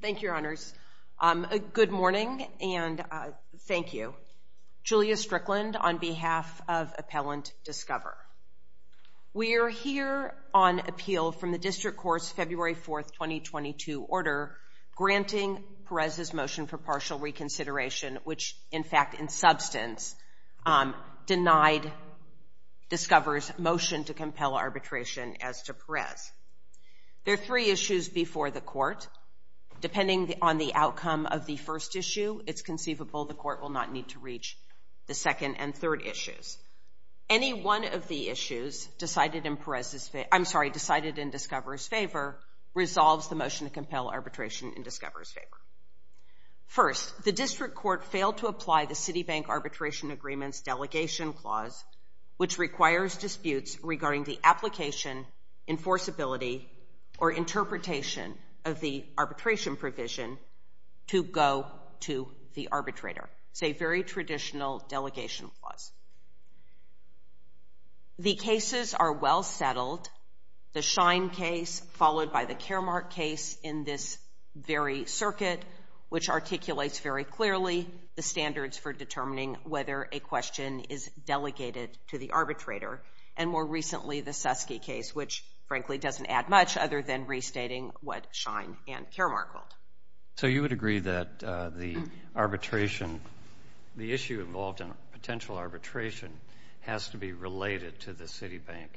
Thank you, Your Honors. Good morning, and thank you. Julia Strickland on behalf of Appellant Discover. We are here on appeal from the District Court's February 4, 2022 order granting Perez's motion for partial reconsideration, which in fact, in substance, denied Discover's motion to compel arbitration as to Perez. There are three issues before the Court. Depending on the outcome of the first issue, it's conceivable the Court will not need to reach the second and third issues. Any one of the issues decided in Discover's favor resolves the motion to compel arbitration in Discover's favor. First, the District Court failed to apply the Citibank Arbitration Agreement's delegation clause, which requires disputes regarding the application, enforceability, or interpretation of the arbitration provision to go to the arbitrator. It's a very traditional delegation clause. The cases are well settled. The Schein case followed by the Caremark case in this very circuit, which articulates very clearly the standards for determining whether a question is delegated to the arbitrator. And more recently, the Suskie case, which frankly doesn't add much other than restating what Schein and Caremark hold. So you would agree that the arbitration, the issue involved in potential arbitration, has to be related to the Citibank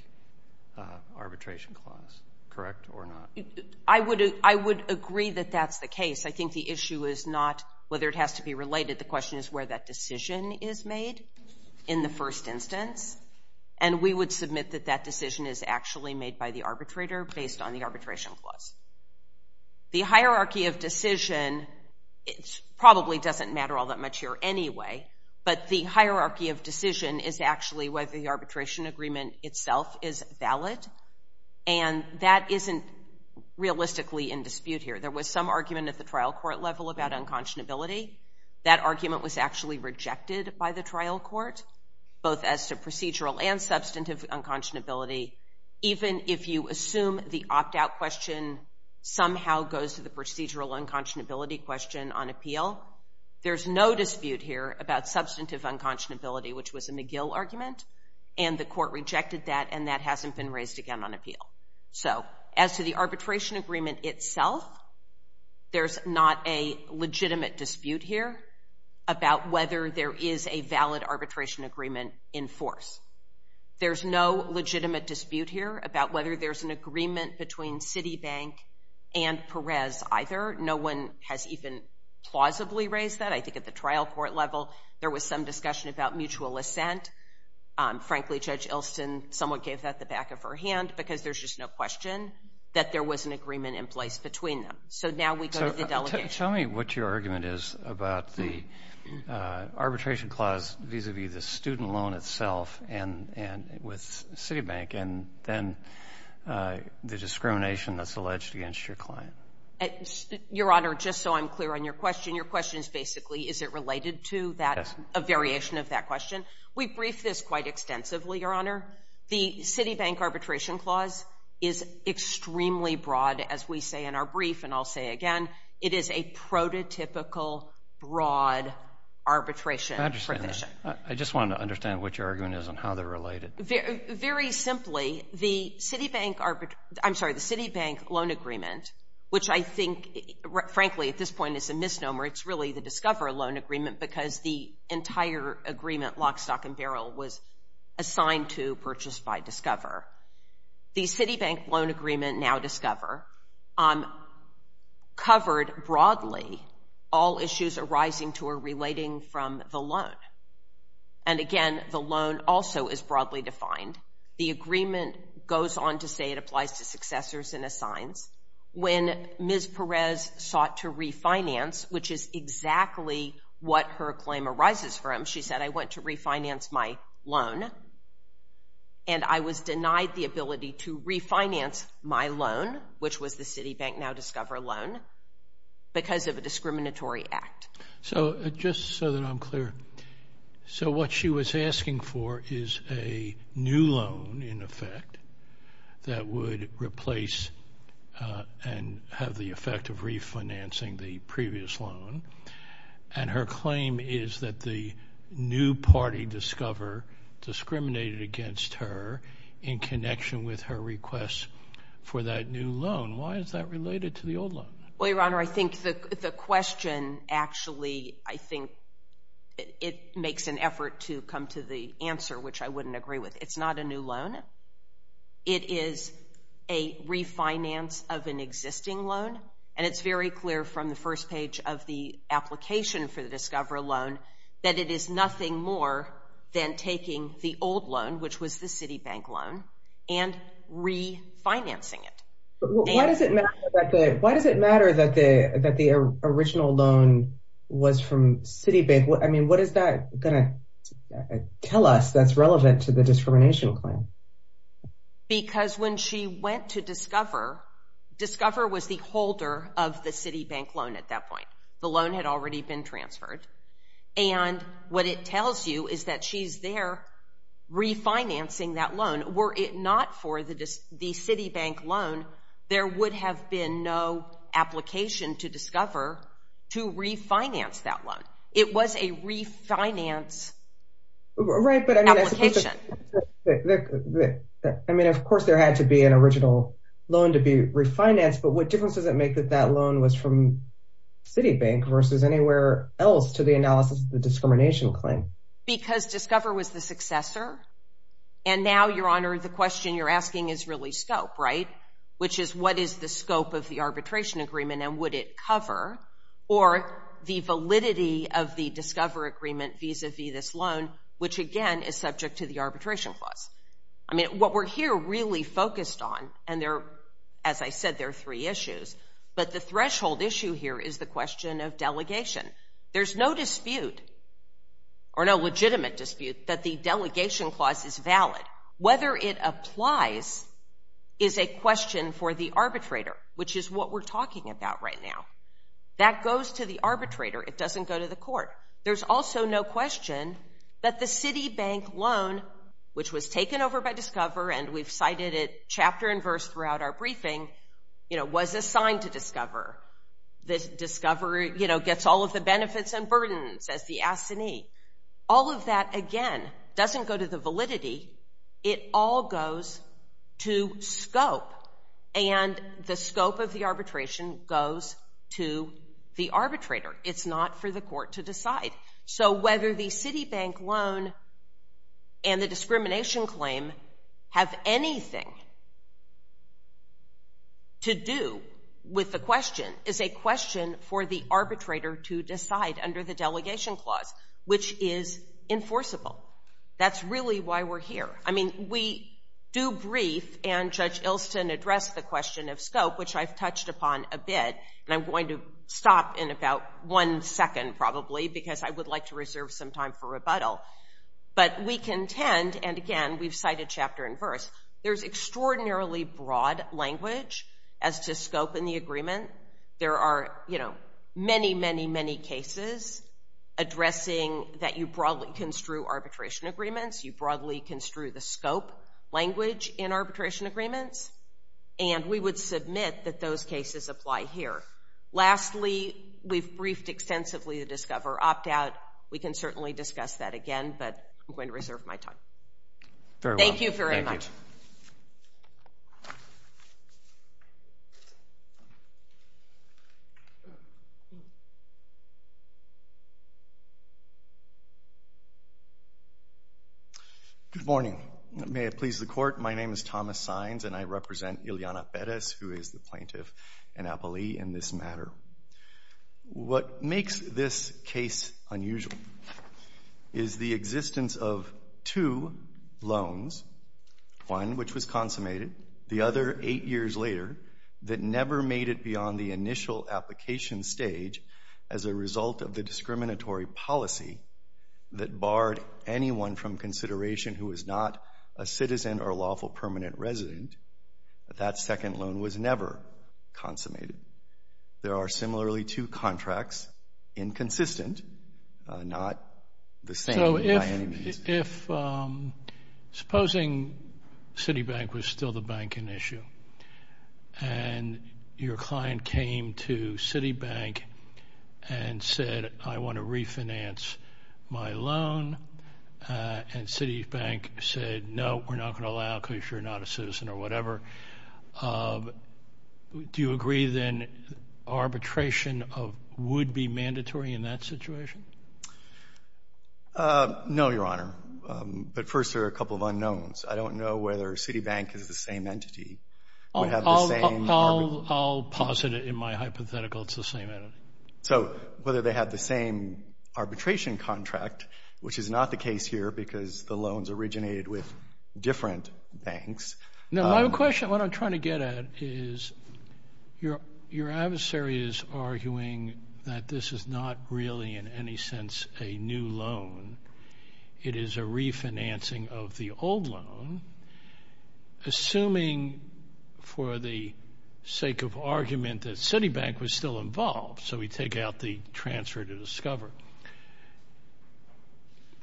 Arbitration Clause, correct or not? I would agree that that's the case. I think the issue is not whether it has to be related. The question is where that decision is made in the first instance, and we would submit that that decision is actually made by the arbitrator based on the arbitration clause. The hierarchy of decision probably doesn't matter all that much here anyway, but the hierarchy of decision is actually whether the arbitration agreement itself is valid, and that isn't realistically in dispute here. There was some argument at the trial court level about unconscionability. That argument was actually rejected by the trial court, both as to procedural and substantive unconscionability. Even if you assume the opt-out question somehow goes to the procedural unconscionability question on appeal, there's no dispute here about substantive unconscionability, which was a McGill argument, and the court rejected that, and that hasn't been raised again on appeal. So as to the arbitration agreement itself, there's not a legitimate dispute here about whether there is a valid arbitration agreement in force. There's no legitimate dispute here about whether there's an agreement between Citibank and Perez either. No one has even plausibly raised that. I think at the trial court level there was some discussion about mutual assent. Frankly, Judge Ilsen somewhat gave that the back of her hand because there's just no question that there was an agreement in place between them. So now we go to the delegation. Tell me what your argument is about the arbitration clause vis-a-vis the student loan itself and with Citibank and then the discrimination that's alleged against your client. Your Honor, just so I'm clear on your question, your question is basically is it related to that, a variation of that question. We briefed this quite extensively, Your Honor. The Citibank arbitration clause is extremely broad, as we say in our brief, and I'll say again, it is a prototypical broad arbitration provision. I understand that. Very simply, the Citibank loan agreement, which I think, frankly, at this point is a misnomer. It's really the Discover loan agreement because the entire agreement, lock, stock, and barrel, was assigned to purchase by Discover. The Citibank loan agreement, now Discover, covered broadly all issues arising to or relating from the loan. And again, the loan also is broadly defined. The agreement goes on to say it applies to successors and assigns. When Ms. Perez sought to refinance, which is exactly what her claim arises from, she said, I want to refinance my loan, and I was denied the ability to refinance my loan, which was the Citibank, now Discover loan, because of a discriminatory act. So just so that I'm clear, so what she was asking for is a new loan, in effect, that would replace and have the effect of refinancing the previous loan, and her claim is that the new party, Discover, discriminated against her in connection with her request for that new loan. Why is that related to the old loan? Well, Your Honor, I think the question actually, I think, it makes an effort to come to the answer, which I wouldn't agree with. It's not a new loan. It is a refinance of an existing loan, and it's very clear from the first page of the application for the Discover loan that it is nothing more than taking the old loan, which was the Citibank loan, and refinancing it. Why does it matter that the original loan was from Citibank? I mean, what is that going to tell us that's relevant to the discrimination claim? Because when she went to Discover, Discover was the holder of the Citibank loan at that point. The loan had already been transferred, and what it tells you is that she's there refinancing that loan. Were it not for the Citibank loan, there would have been no application to Discover to refinance that loan. It was a refinance application. Right, but I mean, of course there had to be an original loan to be refinanced, but what difference does it make that that loan was from Citibank versus anywhere else to the analysis of the discrimination claim? Because Discover was the successor, and now, Your Honor, the question you're asking is really scope, right, which is what is the scope of the arbitration agreement, and would it cover, or the validity of the Discover agreement vis-a-vis this loan, which again is subject to the arbitration clause. I mean, what we're here really focused on, and as I said, there are three issues, but the threshold issue here is the question of delegation. There's no dispute, or no legitimate dispute, that the delegation clause is valid. Whether it applies is a question for the arbitrator, which is what we're talking about right now. That goes to the arbitrator. It doesn't go to the court. There's also no question that the Citibank loan, which was taken over by Discover, and we've cited it chapter and verse throughout our briefing, was assigned to Discover. Discover gets all of the benefits and burdens as the assignee. All of that, again, doesn't go to the validity. It all goes to scope, and the scope of the arbitration goes to the arbitrator. It's not for the court to decide. So whether the Citibank loan and the discrimination claim have anything to do with the question is a question for the arbitrator to decide under the delegation clause, which is enforceable. That's really why we're here. I mean, we do brief, and Judge Ilston addressed the question of scope, which I've touched upon a bit, and I'm going to stop in about one second, probably, because I would like to reserve some time for rebuttal. But we contend, and again, we've cited chapter and verse, there's extraordinarily broad language as to scope in the agreement. There are, you know, many, many, many cases addressing that you broadly construe arbitration agreements, you broadly construe the scope language in arbitration agreements, and we would submit that those cases apply here. Lastly, we've briefed extensively the Discover opt-out. We can certainly discuss that again, but I'm going to reserve my time. Thank you very much. Good morning. May it please the Court. My name is Thomas Saenz, and I represent Ileana Perez, who is the plaintiff and appellee in this matter. What makes this case unusual is the existence of two loans, one which was consummated, the other eight years later, that never made it beyond the initial application stage as a result of the discriminatory policy that barred anyone from consideration who was not a citizen or a lawful permanent resident. That second loan was never consummated. There are similarly two contracts, inconsistent, not the same by any means. So if supposing Citibank was still the banking issue, and your client came to Citibank and said, I want to refinance my loan, and Citibank said, no, we're not going to allow it because you're not a citizen or whatever, do you agree, then, arbitration would be mandatory in that situation? No, Your Honor. But first, there are a couple of unknowns. I don't know whether Citibank is the same entity. I'll posit it in my hypothetical it's the same entity. So whether they have the same arbitration contract, which is not the case here because the loans originated with different banks. No, my question, what I'm trying to get at, is your adversary is arguing that this is not really in any sense a new loan. It is a refinancing of the old loan, assuming for the sake of argument that Citibank was still involved, so we take out the transfer to Discover.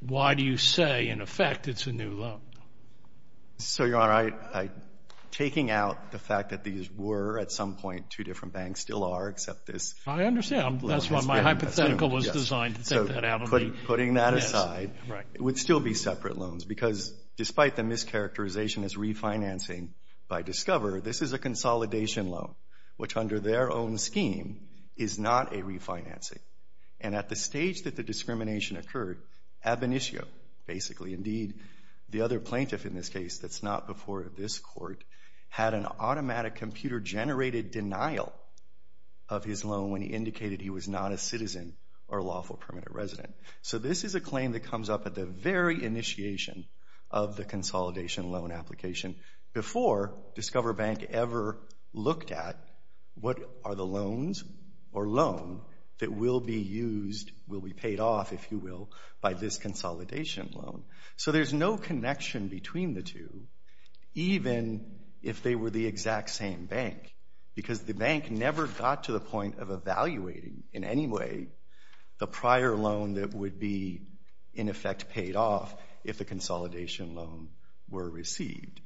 Why do you say, in effect, it's a new loan? So, Your Honor, taking out the fact that these were at some point two different banks, still are, except this... I understand. That's why my hypothetical was designed to take that out. Putting that aside, it would still be separate loans because despite the mischaracterization as refinancing by Discover, this is a consolidation loan, which under their own scheme is not a refinancing. And at the stage that the discrimination occurred, Abinishio, basically, indeed, the other plaintiff in this case that's not before this court, had an automatic computer-generated denial of his loan when he indicated he was not a citizen or a lawful permanent resident. So this is a claim that comes up at the very initiation of the consolidation loan application before Discover Bank ever looked at what are the loans or loan that will be used, will be paid off, if you will, by this consolidation loan. So there's no connection between the two, even if they were the exact same bank because the bank never got to the point of evaluating in any way the prior loan that would be, in effect, paid off if the consolidation loan were received.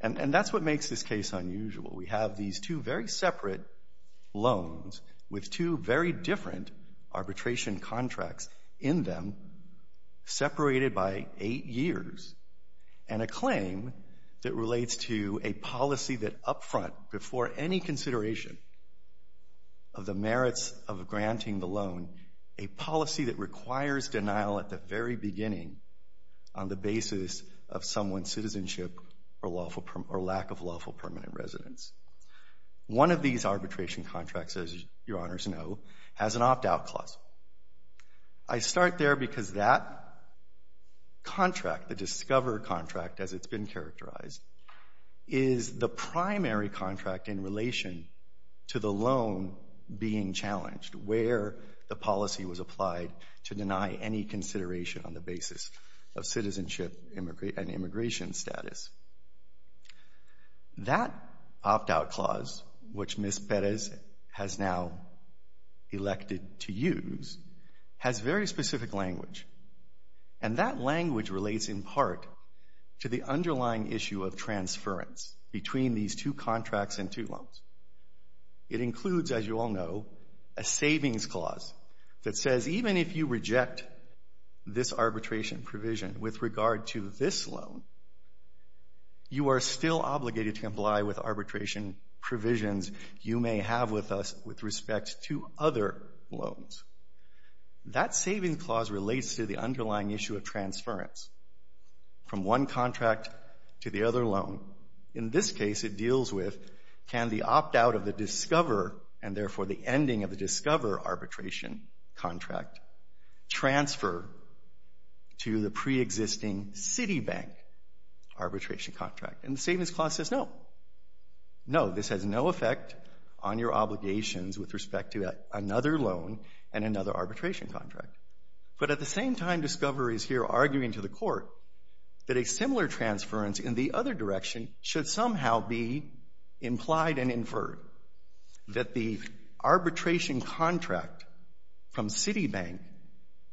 And that's what makes this case unusual. We have these two very separate loans with two very different arbitration contracts in them separated by eight years and a claim that relates to a policy that up front, before any consideration of the merits of granting the loan, a policy that requires denial at the very beginning on the basis of someone's citizenship or lack of lawful permanent residence. One of these arbitration contracts, as your Honours know, has an opt-out clause. I start there because that contract, the Discover contract as it's been characterized, is the primary contract in relation to the loan being challenged where the policy was applied to deny any consideration on the basis of citizenship and immigration status. That opt-out clause, which Ms. Perez has now elected to use, has very specific language. And that language relates in part to the underlying issue of transference between these two contracts and two loans. It includes, as you all know, a savings clause that says even if you reject this arbitration provision with regard to this loan, you are still obligated to comply with arbitration provisions you may have with us with respect to other loans. That savings clause relates to the underlying issue of transference from one contract to the other loan. In this case, it deals with can the opt-out of the Discover and therefore the ending of the Discover arbitration contract transfer to the pre-existing Citibank arbitration contract? And the savings clause says no. No, this has no effect on your obligations with respect to another loan and another arbitration contract. But at the same time, Discover is here arguing to the court that a similar transference in the other direction should somehow be implied and inferred, that the arbitration contract from Citibank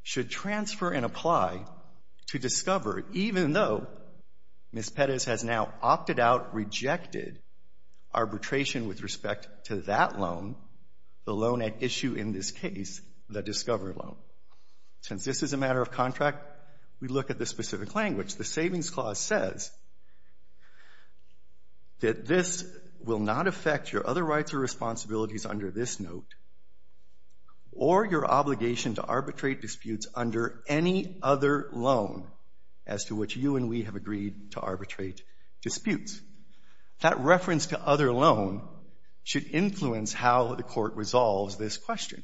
should transfer and apply to Discover even though Ms. Pettis has now opted out, rejected arbitration with respect to that loan, the loan at issue in this case, the Discover loan. Since this is a matter of contract, we look at the specific language. The savings clause says that this will not affect your other rights or responsibilities under this note or your obligation to arbitrate disputes under any other loan as to which you and we have agreed to arbitrate disputes. That reference to other loan should influence how the court resolves this question.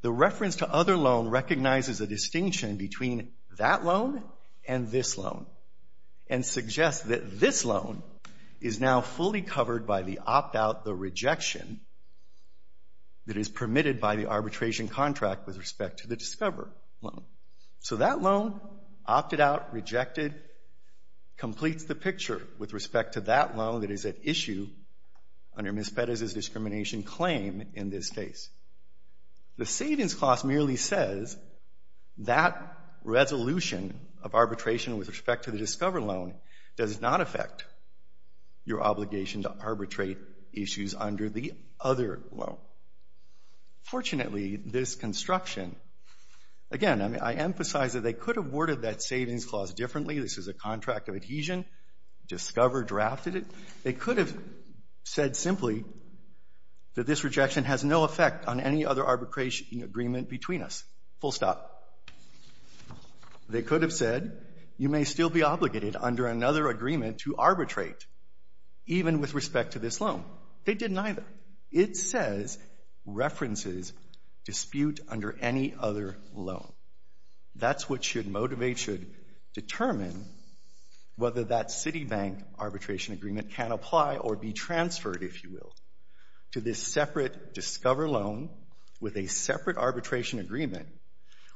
The reference to other loan recognizes a distinction between that loan and this loan and suggests that this loan is now fully covered by the opt-out, the rejection, that is permitted by the arbitration contract with respect to the Discover loan. So that loan, opted out, rejected, completes the picture with respect to that loan that is at issue under Ms. Pettis' discrimination claim in this case. The savings clause merely says that resolution of arbitration with respect to the Discover loan does not affect your obligation to arbitrate issues under the other loan. Fortunately, this construction, again, I emphasize that they could have worded that savings clause differently. This is a contract of adhesion. Discover drafted it. They could have said simply that this rejection has no effect on any other arbitration agreement between us. Full stop. They could have said you may still be obligated under another agreement to arbitrate even with respect to this loan. They didn't either. It says references dispute under any other loan. That's what should motivate, should determine whether that Citibank arbitration agreement can apply or be transferred, if you will, to this separate Discover loan with a separate arbitration agreement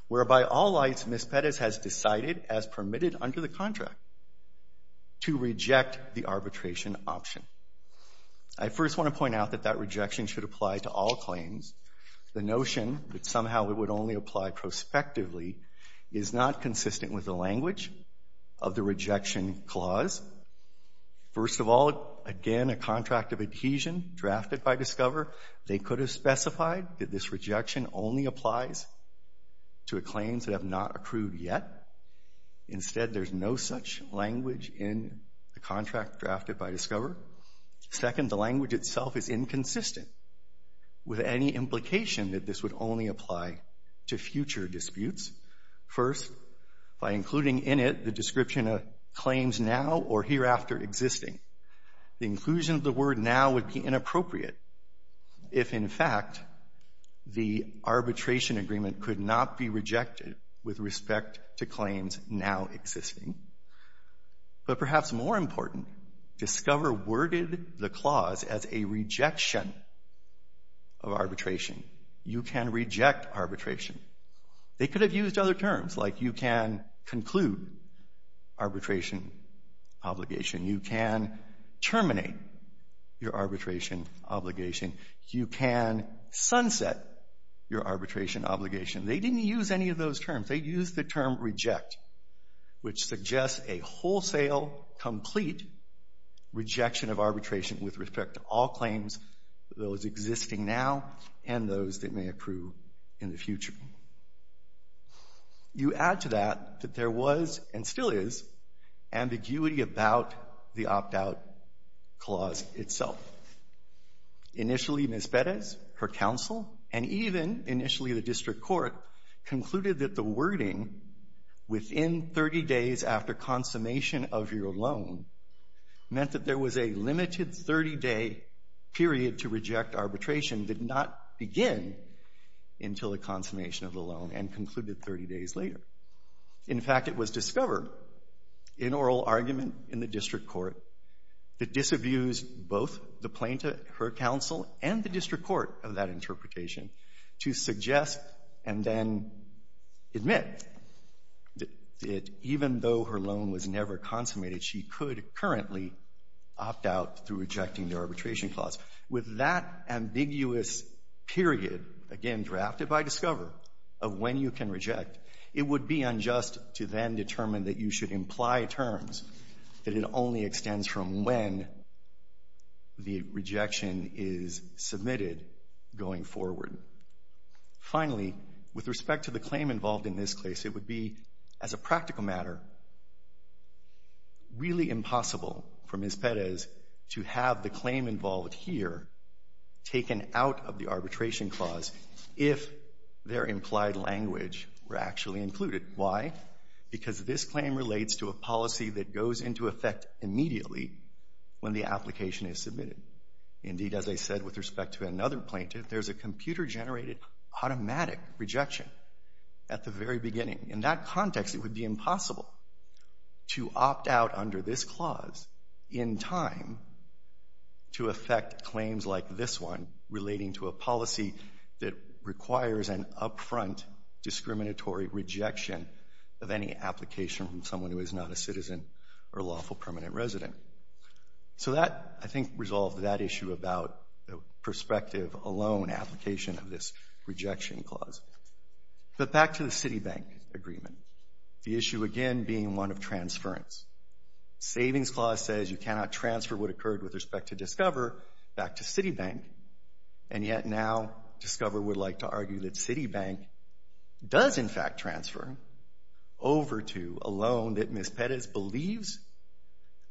whereby all lights Ms. Pettis has decided as permitted under the contract to reject the arbitration option. I first want to point out that that rejection should apply to all claims. The notion that somehow it would only apply prospectively is not consistent with the language of the rejection clause. First of all, again, a contract of adhesion drafted by Discover. They could have specified that this rejection only applies to claims that have not approved yet. Instead, there's no such language in the contract drafted by Discover. Second, the language itself is inconsistent with any implication that this would only apply to future disputes. First, by including in it the description of claims now or hereafter existing, the inclusion of the word now would be inappropriate if, in fact, the arbitration agreement could not be rejected with respect to claims now existing. But perhaps more important, Discover worded the clause as a rejection of arbitration. You can reject arbitration. They could have used other terms, like you can conclude arbitration obligation, you can terminate your arbitration obligation, you can sunset your arbitration obligation. They didn't use any of those terms. They used the term reject, which suggests a wholesale, complete rejection of arbitration with respect to all claims, those existing now, and those that may approve in the future. You add to that that there was, and still is, ambiguity about the opt-out clause itself. Initially, Ms. Perez, her counsel, and even initially the district court concluded that the wording within 30 days after consummation of your loan meant that there was a limited 30-day period to reject arbitration did not begin until the consummation of the loan and concluded 30 days later. In fact, it was Discover, in oral argument, in the district court, that disabused both the plaintiff, her counsel, and the district court of that interpretation to suggest and then admit that even though her loan was never consummated, she could currently opt out through rejecting the arbitration clause. With that ambiguous period, again, drafted by Discover, of when you can reject, it would be unjust to then determine that you should imply terms that it only extends from when the rejection is submitted going forward. Finally, with respect to the claim involved in this case, it would be, as a practical matter, really impossible for Ms. Perez to have the claim involved here taken out of the arbitration clause if their implied language were actually included. Why? Because this claim relates to a policy that goes into effect immediately when the application is submitted. Indeed, as I said with respect to another plaintiff, there's a computer-generated automatic rejection at the very beginning. In that context, it would be impossible to opt out under this clause in time to affect claims like this one relating to a policy that requires an upfront discriminatory rejection of any application from someone who is not a citizen or lawful permanent resident. So that, I think, resolved that issue about the perspective alone application of this rejection clause. But back to the Citibank agreement, the issue, again, being one of transference. Savings clause says you cannot transfer what occurred with respect to Discover back to Citibank, and yet now Discover would like to argue that Citibank does, in fact, transfer over to a loan that Ms. Perez believes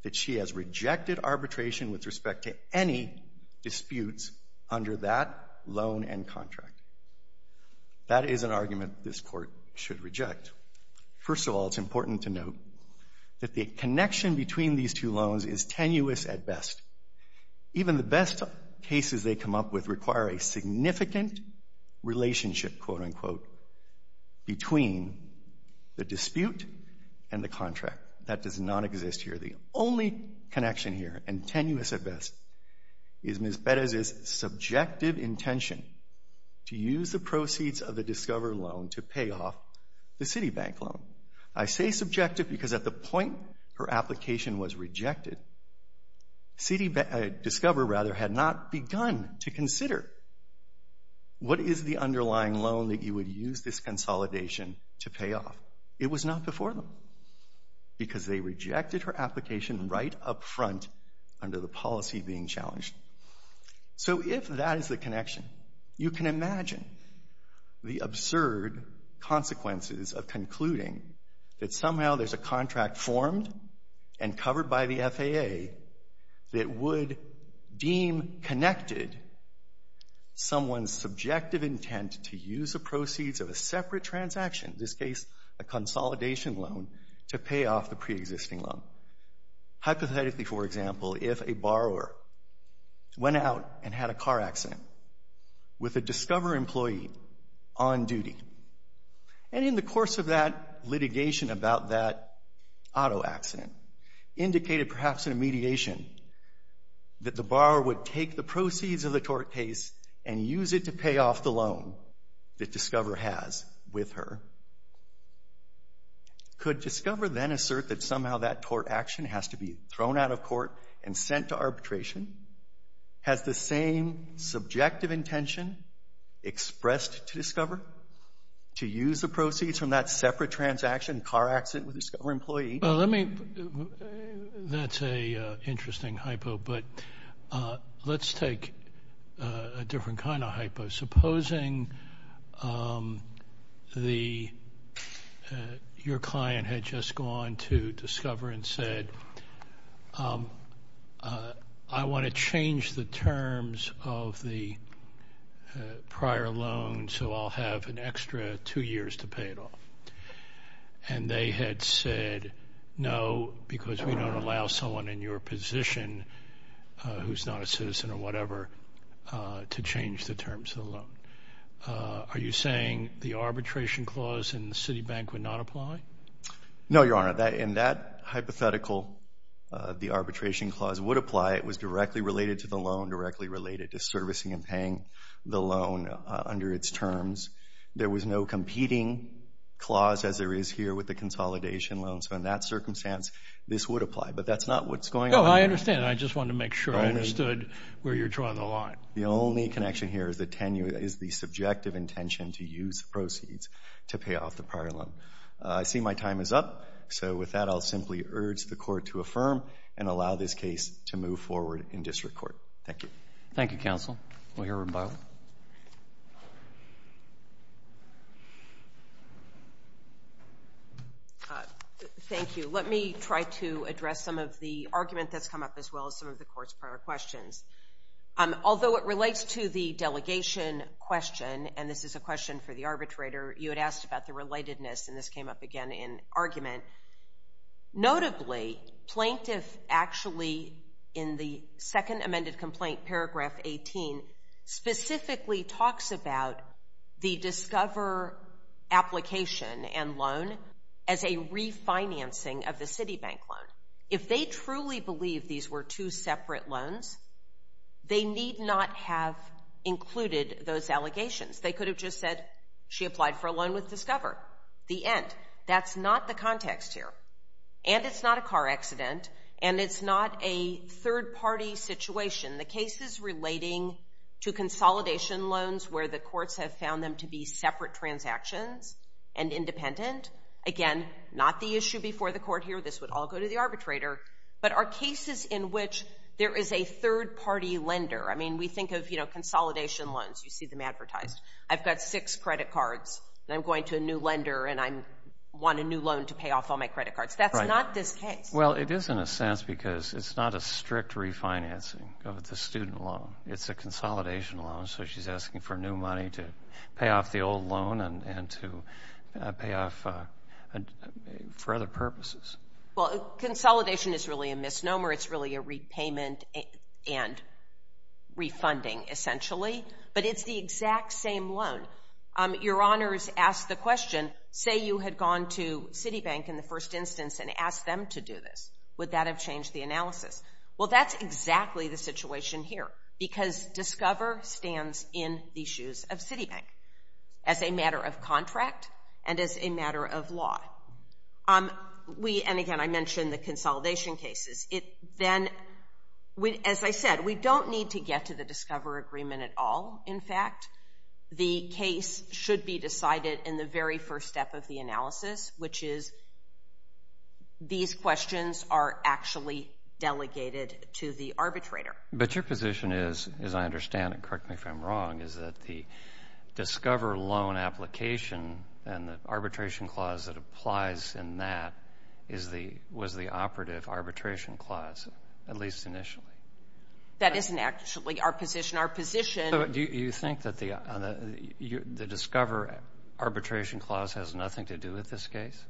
that she has rejected arbitration with respect to any disputes under that loan and contract. That is an argument this Court should reject. First of all, it's important to note that the connection between these two loans is tenuous at best. Even the best cases they come up with require a significant relationship, quote-unquote, between the dispute and the contract. That does not exist here. The only connection here, and tenuous at best, is Ms. Perez's subjective intention to use the proceeds of the Discover loan to pay off the Citibank loan. I say subjective because at the point her application was rejected, Discover had not begun to consider what is the underlying loan that you would use this consolidation to pay off. It was not before them because they rejected her application right up front under the policy being challenged. So if that is the connection, you can imagine the absurd consequences of concluding that somehow there's a contract formed and covered by the FAA that would deem connected someone's subjective intent to use the proceeds of a separate transaction, in this case a consolidation loan, to pay off the preexisting loan. Hypothetically, for example, if a borrower went out and had a car accident with a Discover employee on duty, and in the course of that litigation about that auto accident, indicated perhaps in a mediation that the borrower would take the proceeds of the tort case and use it to pay off the loan that Discover has with her, could Discover then assert that somehow that tort action has to be thrown out of court and sent to arbitration? Has the same subjective intention expressed to Discover to use the proceeds from that separate transaction, car accident with a Discover employee? That's an interesting hypo, but let's take a different kind of hypo. Supposing your client had just gone to Discover and said, I want to change the terms of the prior loan, so I'll have an extra two years to pay it off. And they had said no because we don't allow someone in your position who's not a citizen or whatever to change the terms of the loan. Are you saying the arbitration clause in the Citibank would not apply? No, Your Honor. In that hypothetical, the arbitration clause would apply. It was directly related to the loan, directly related to servicing and paying the loan under its terms. There was no competing clause as there is here with the consolidation loan. So in that circumstance, this would apply. But that's not what's going on here. Oh, I understand. I just wanted to make sure I understood where you're drawing the line. The only connection here is the subjective intention to use the proceeds to pay off the prior loan. I see my time is up. So with that, I'll simply urge the court to affirm and allow this case to move forward in district court. Thank you. Thank you, counsel. We'll hear from Byron. Thank you. Let me try to address some of the argument that's come up as well as some of the court's prior questions. Although it relates to the delegation question, and this is a question for the arbitrator, you had asked about the relatedness, and this came up again in argument. Notably, plaintiff actually, in the second amended complaint, paragraph 18, specifically talks about the Discover application and loan as a refinancing of the Citibank loan. If they truly believe these were two separate loans, they need not have included those allegations. They could have just said, she applied for a loan with Discover, the end. That's not the context here, and it's not a car accident, and it's not a third-party situation. The cases relating to consolidation loans where the courts have found them to be separate transactions and independent, again, not the issue before the court here. This would all go to the arbitrator, but are cases in which there is a third-party lender. I mean, we think of consolidation loans. You see them advertised. I've got six credit cards, and I'm going to a new lender, and I want a new loan to pay off all my credit cards. That's not this case. Well, it is in a sense because it's not a strict refinancing of the student loan. It's a consolidation loan, so she's asking for new money to pay off the old loan and to pay off for other purposes. Well, consolidation is really a misnomer. It's really a repayment and refunding, essentially, but it's the exact same loan. Your Honors asked the question, say you had gone to Citibank in the first instance and asked them to do this. Would that have changed the analysis? Well, that's exactly the situation here because DISCOVER stands in the shoes of Citibank as a matter of contract and as a matter of law. And again, I mentioned the consolidation cases. Then, as I said, we don't need to get to the DISCOVER agreement at all. In fact, the case should be decided in the very first step of the analysis, which is these questions are actually delegated to the arbitrator. But your position is, as I understand it, correct me if I'm wrong, is that the DISCOVER loan application and the arbitration clause that applies in that was the operative arbitration clause, at least initially. That isn't actually our position. Our position... So do you think that the DISCOVER arbitration clause has nothing to do with this case?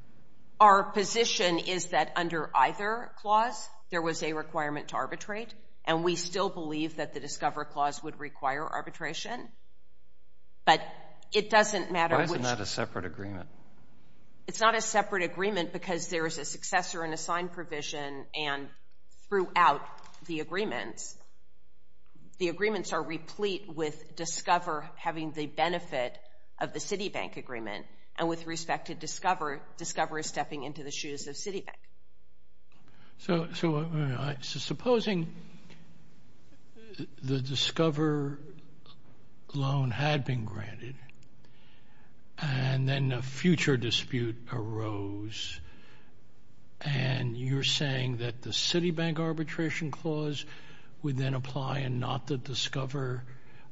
Our position is that under either clause, there was a requirement to arbitrate, and we still believe that the DISCOVER clause would require arbitration. But it doesn't matter which... Why is it not a separate agreement? It's not a separate agreement because there is a successor and assigned provision, and throughout the agreements, the agreements are replete with DISCOVER having the benefit of the Citibank agreement. And with respect to DISCOVER, DISCOVER is stepping into the shoes of Citibank. So supposing the DISCOVER loan had been granted and then a future dispute arose, and you're saying that the Citibank arbitration clause would then apply and not the DISCOVER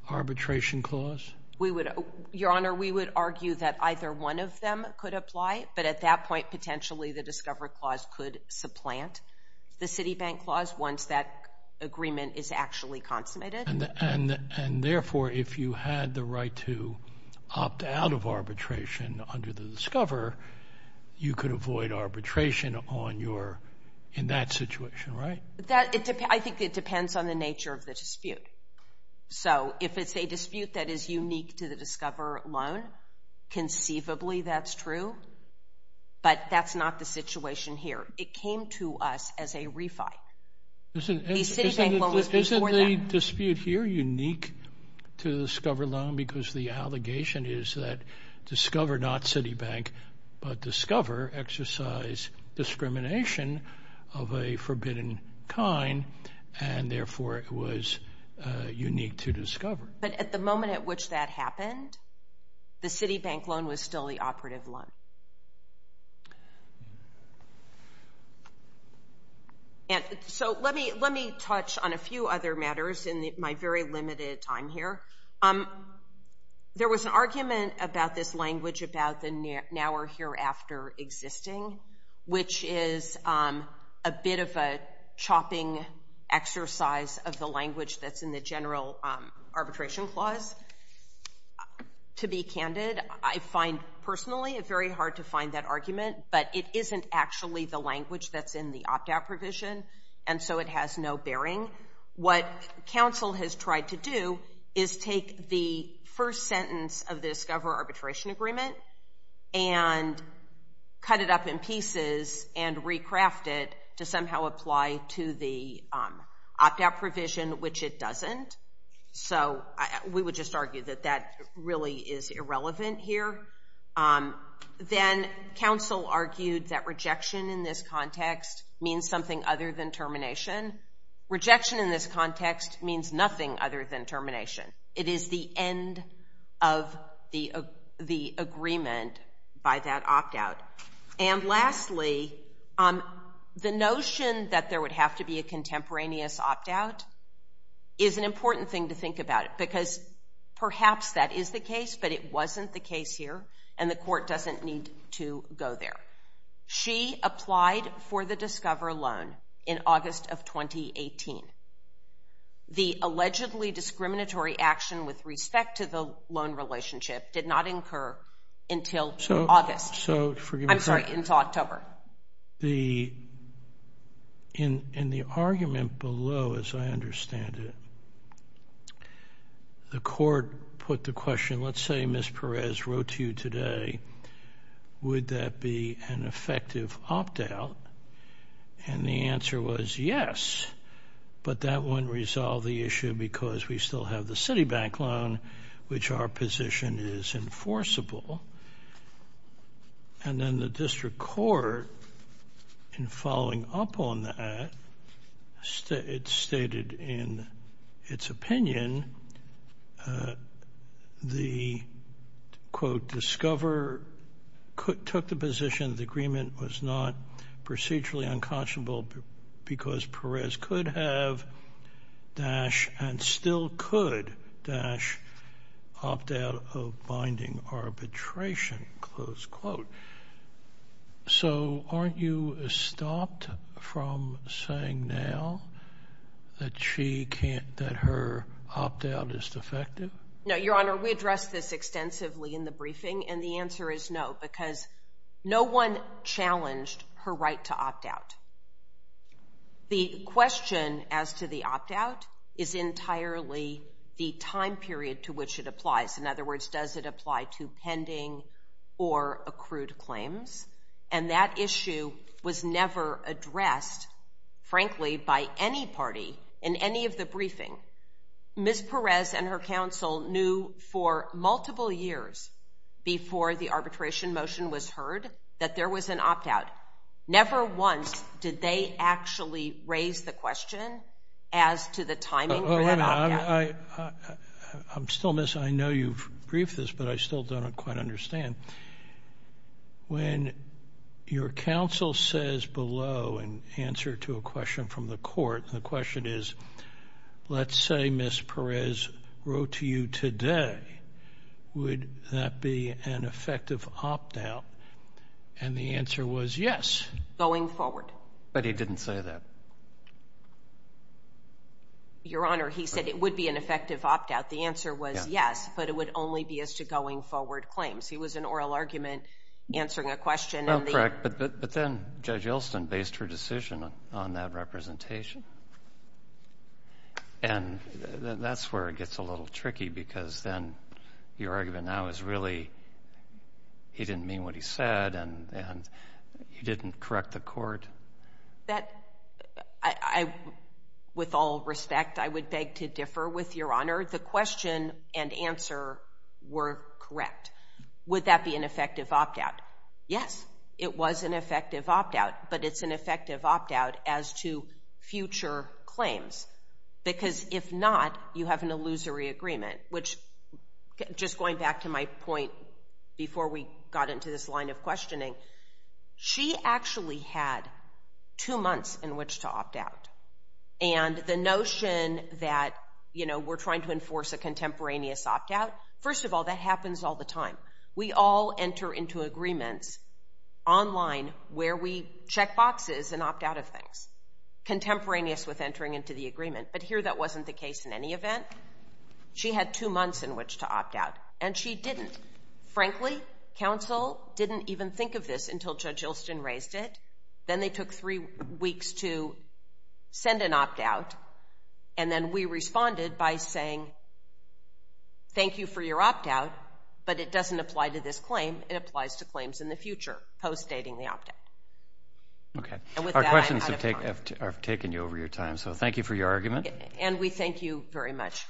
arbitration clause? We would... Neither one of them could apply, but at that point, potentially, the DISCOVER clause could supplant the Citibank clause once that agreement is actually consummated. And therefore, if you had the right to opt out of arbitration under the DISCOVER, you could avoid arbitration on your... in that situation, right? I think it depends on the nature of the dispute. So if it's a dispute that is unique to the DISCOVER loan, conceivably that's true, but that's not the situation here. It came to us as a refi. The Citibank loan was before that. Isn't the dispute here unique to the DISCOVER loan because the allegation is that DISCOVER, not Citibank, but DISCOVER exercise discrimination of a forbidden kind, and therefore it was unique to DISCOVER. But at the moment at which that happened, the Citibank loan was still the operative loan. So let me touch on a few other matters in my very limited time here. There was an argument about this language about the now or hereafter existing, which is a bit of a chopping exercise of the language that's in the general arbitration clause. To be candid, I find personally it very hard to find that argument, but it isn't actually the language that's in the opt-out provision, and so it has no bearing. What counsel has tried to do is take the first sentence of the DISCOVER arbitration agreement and cut it up in pieces and recraft it to somehow apply to the opt-out provision, which it doesn't. So we would just argue that that really is irrelevant here. Then counsel argued that rejection in this context means something other than termination. Rejection in this context means nothing other than termination. It is the end of the agreement by that opt-out. And lastly, the notion that there would have to be a contemporaneous opt-out is an important thing to think about because perhaps that is the case, but it wasn't the case here, and the court doesn't need to go there. She applied for the DISCOVER loan in August of 2018. The allegedly discriminatory action with respect to the loan relationship did not incur until August. I'm sorry, until October. In the argument below, as I understand it, the court put the question, let's say Ms. Perez wrote to you today, would that be an effective opt-out? And the answer was yes, but that wouldn't resolve the issue because we still have the Citibank loan, which our position is enforceable. And then the district court, in following up on that, it stated in its opinion the, quote, DISCOVER took the position the agreement was not procedurally unconscionable because Perez could have, dash, and still could, dash, opt-out of binding arbitration, close quote. So aren't you stopped from saying now that she can't, that her opt-out is defective? No, Your Honor, we addressed this extensively in the briefing, and the answer is no because no one challenged her right to opt-out. The question as to the opt-out is entirely the time period to which it applies. In other words, does it apply to pending or accrued claims? And that issue was never addressed, frankly, by any party in any of the briefing. Ms. Perez and her counsel knew for multiple years before the arbitration motion was heard that there was an opt-out. Never once did they actually raise the question as to the timing for that opt-out. Oh, wait a minute. I'm still missing. I know you've briefed this, but I still don't quite understand. When your counsel says below in answer to a question from the court, the question is, let's say Ms. Perez wrote to you today, would that be an effective opt-out? And the answer was yes. Going forward. But he didn't say that. Your Honor, he said it would be an effective opt-out. The answer was yes, but it would only be as to going forward claims. It was an oral argument answering a question. Well, correct, but then Judge Elston based her decision on that representation, and that's where it gets a little tricky because then your argument now is really he didn't mean what he said and he didn't correct the court. With all respect, I would beg to differ with your Honor. The question and answer were correct. Would that be an effective opt-out? Yes, it was an effective opt-out, but it's an effective opt-out as to future claims because if not, you have an illusory agreement, which just going back to my point before we got into this line of questioning, she actually had two months in which to opt-out. And the notion that, you know, we're trying to enforce a contemporaneous opt-out, first of all, that happens all the time. We all enter into agreements online where we check boxes and opt-out of things, contemporaneous with entering into the agreement. But here that wasn't the case in any event. She had two months in which to opt-out, and she didn't. Frankly, counsel didn't even think of this until Judge Ilston raised it. Then they took three weeks to send an opt-out, and then we responded by saying thank you for your opt-out, but it doesn't apply to this claim. It applies to claims in the future post-dating the opt-out. Okay. And we thank you very much.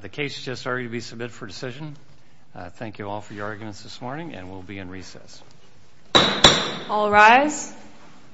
The case has just already been submitted for decision. Thank you all for your arguments this morning, and we'll be in recess. All rise.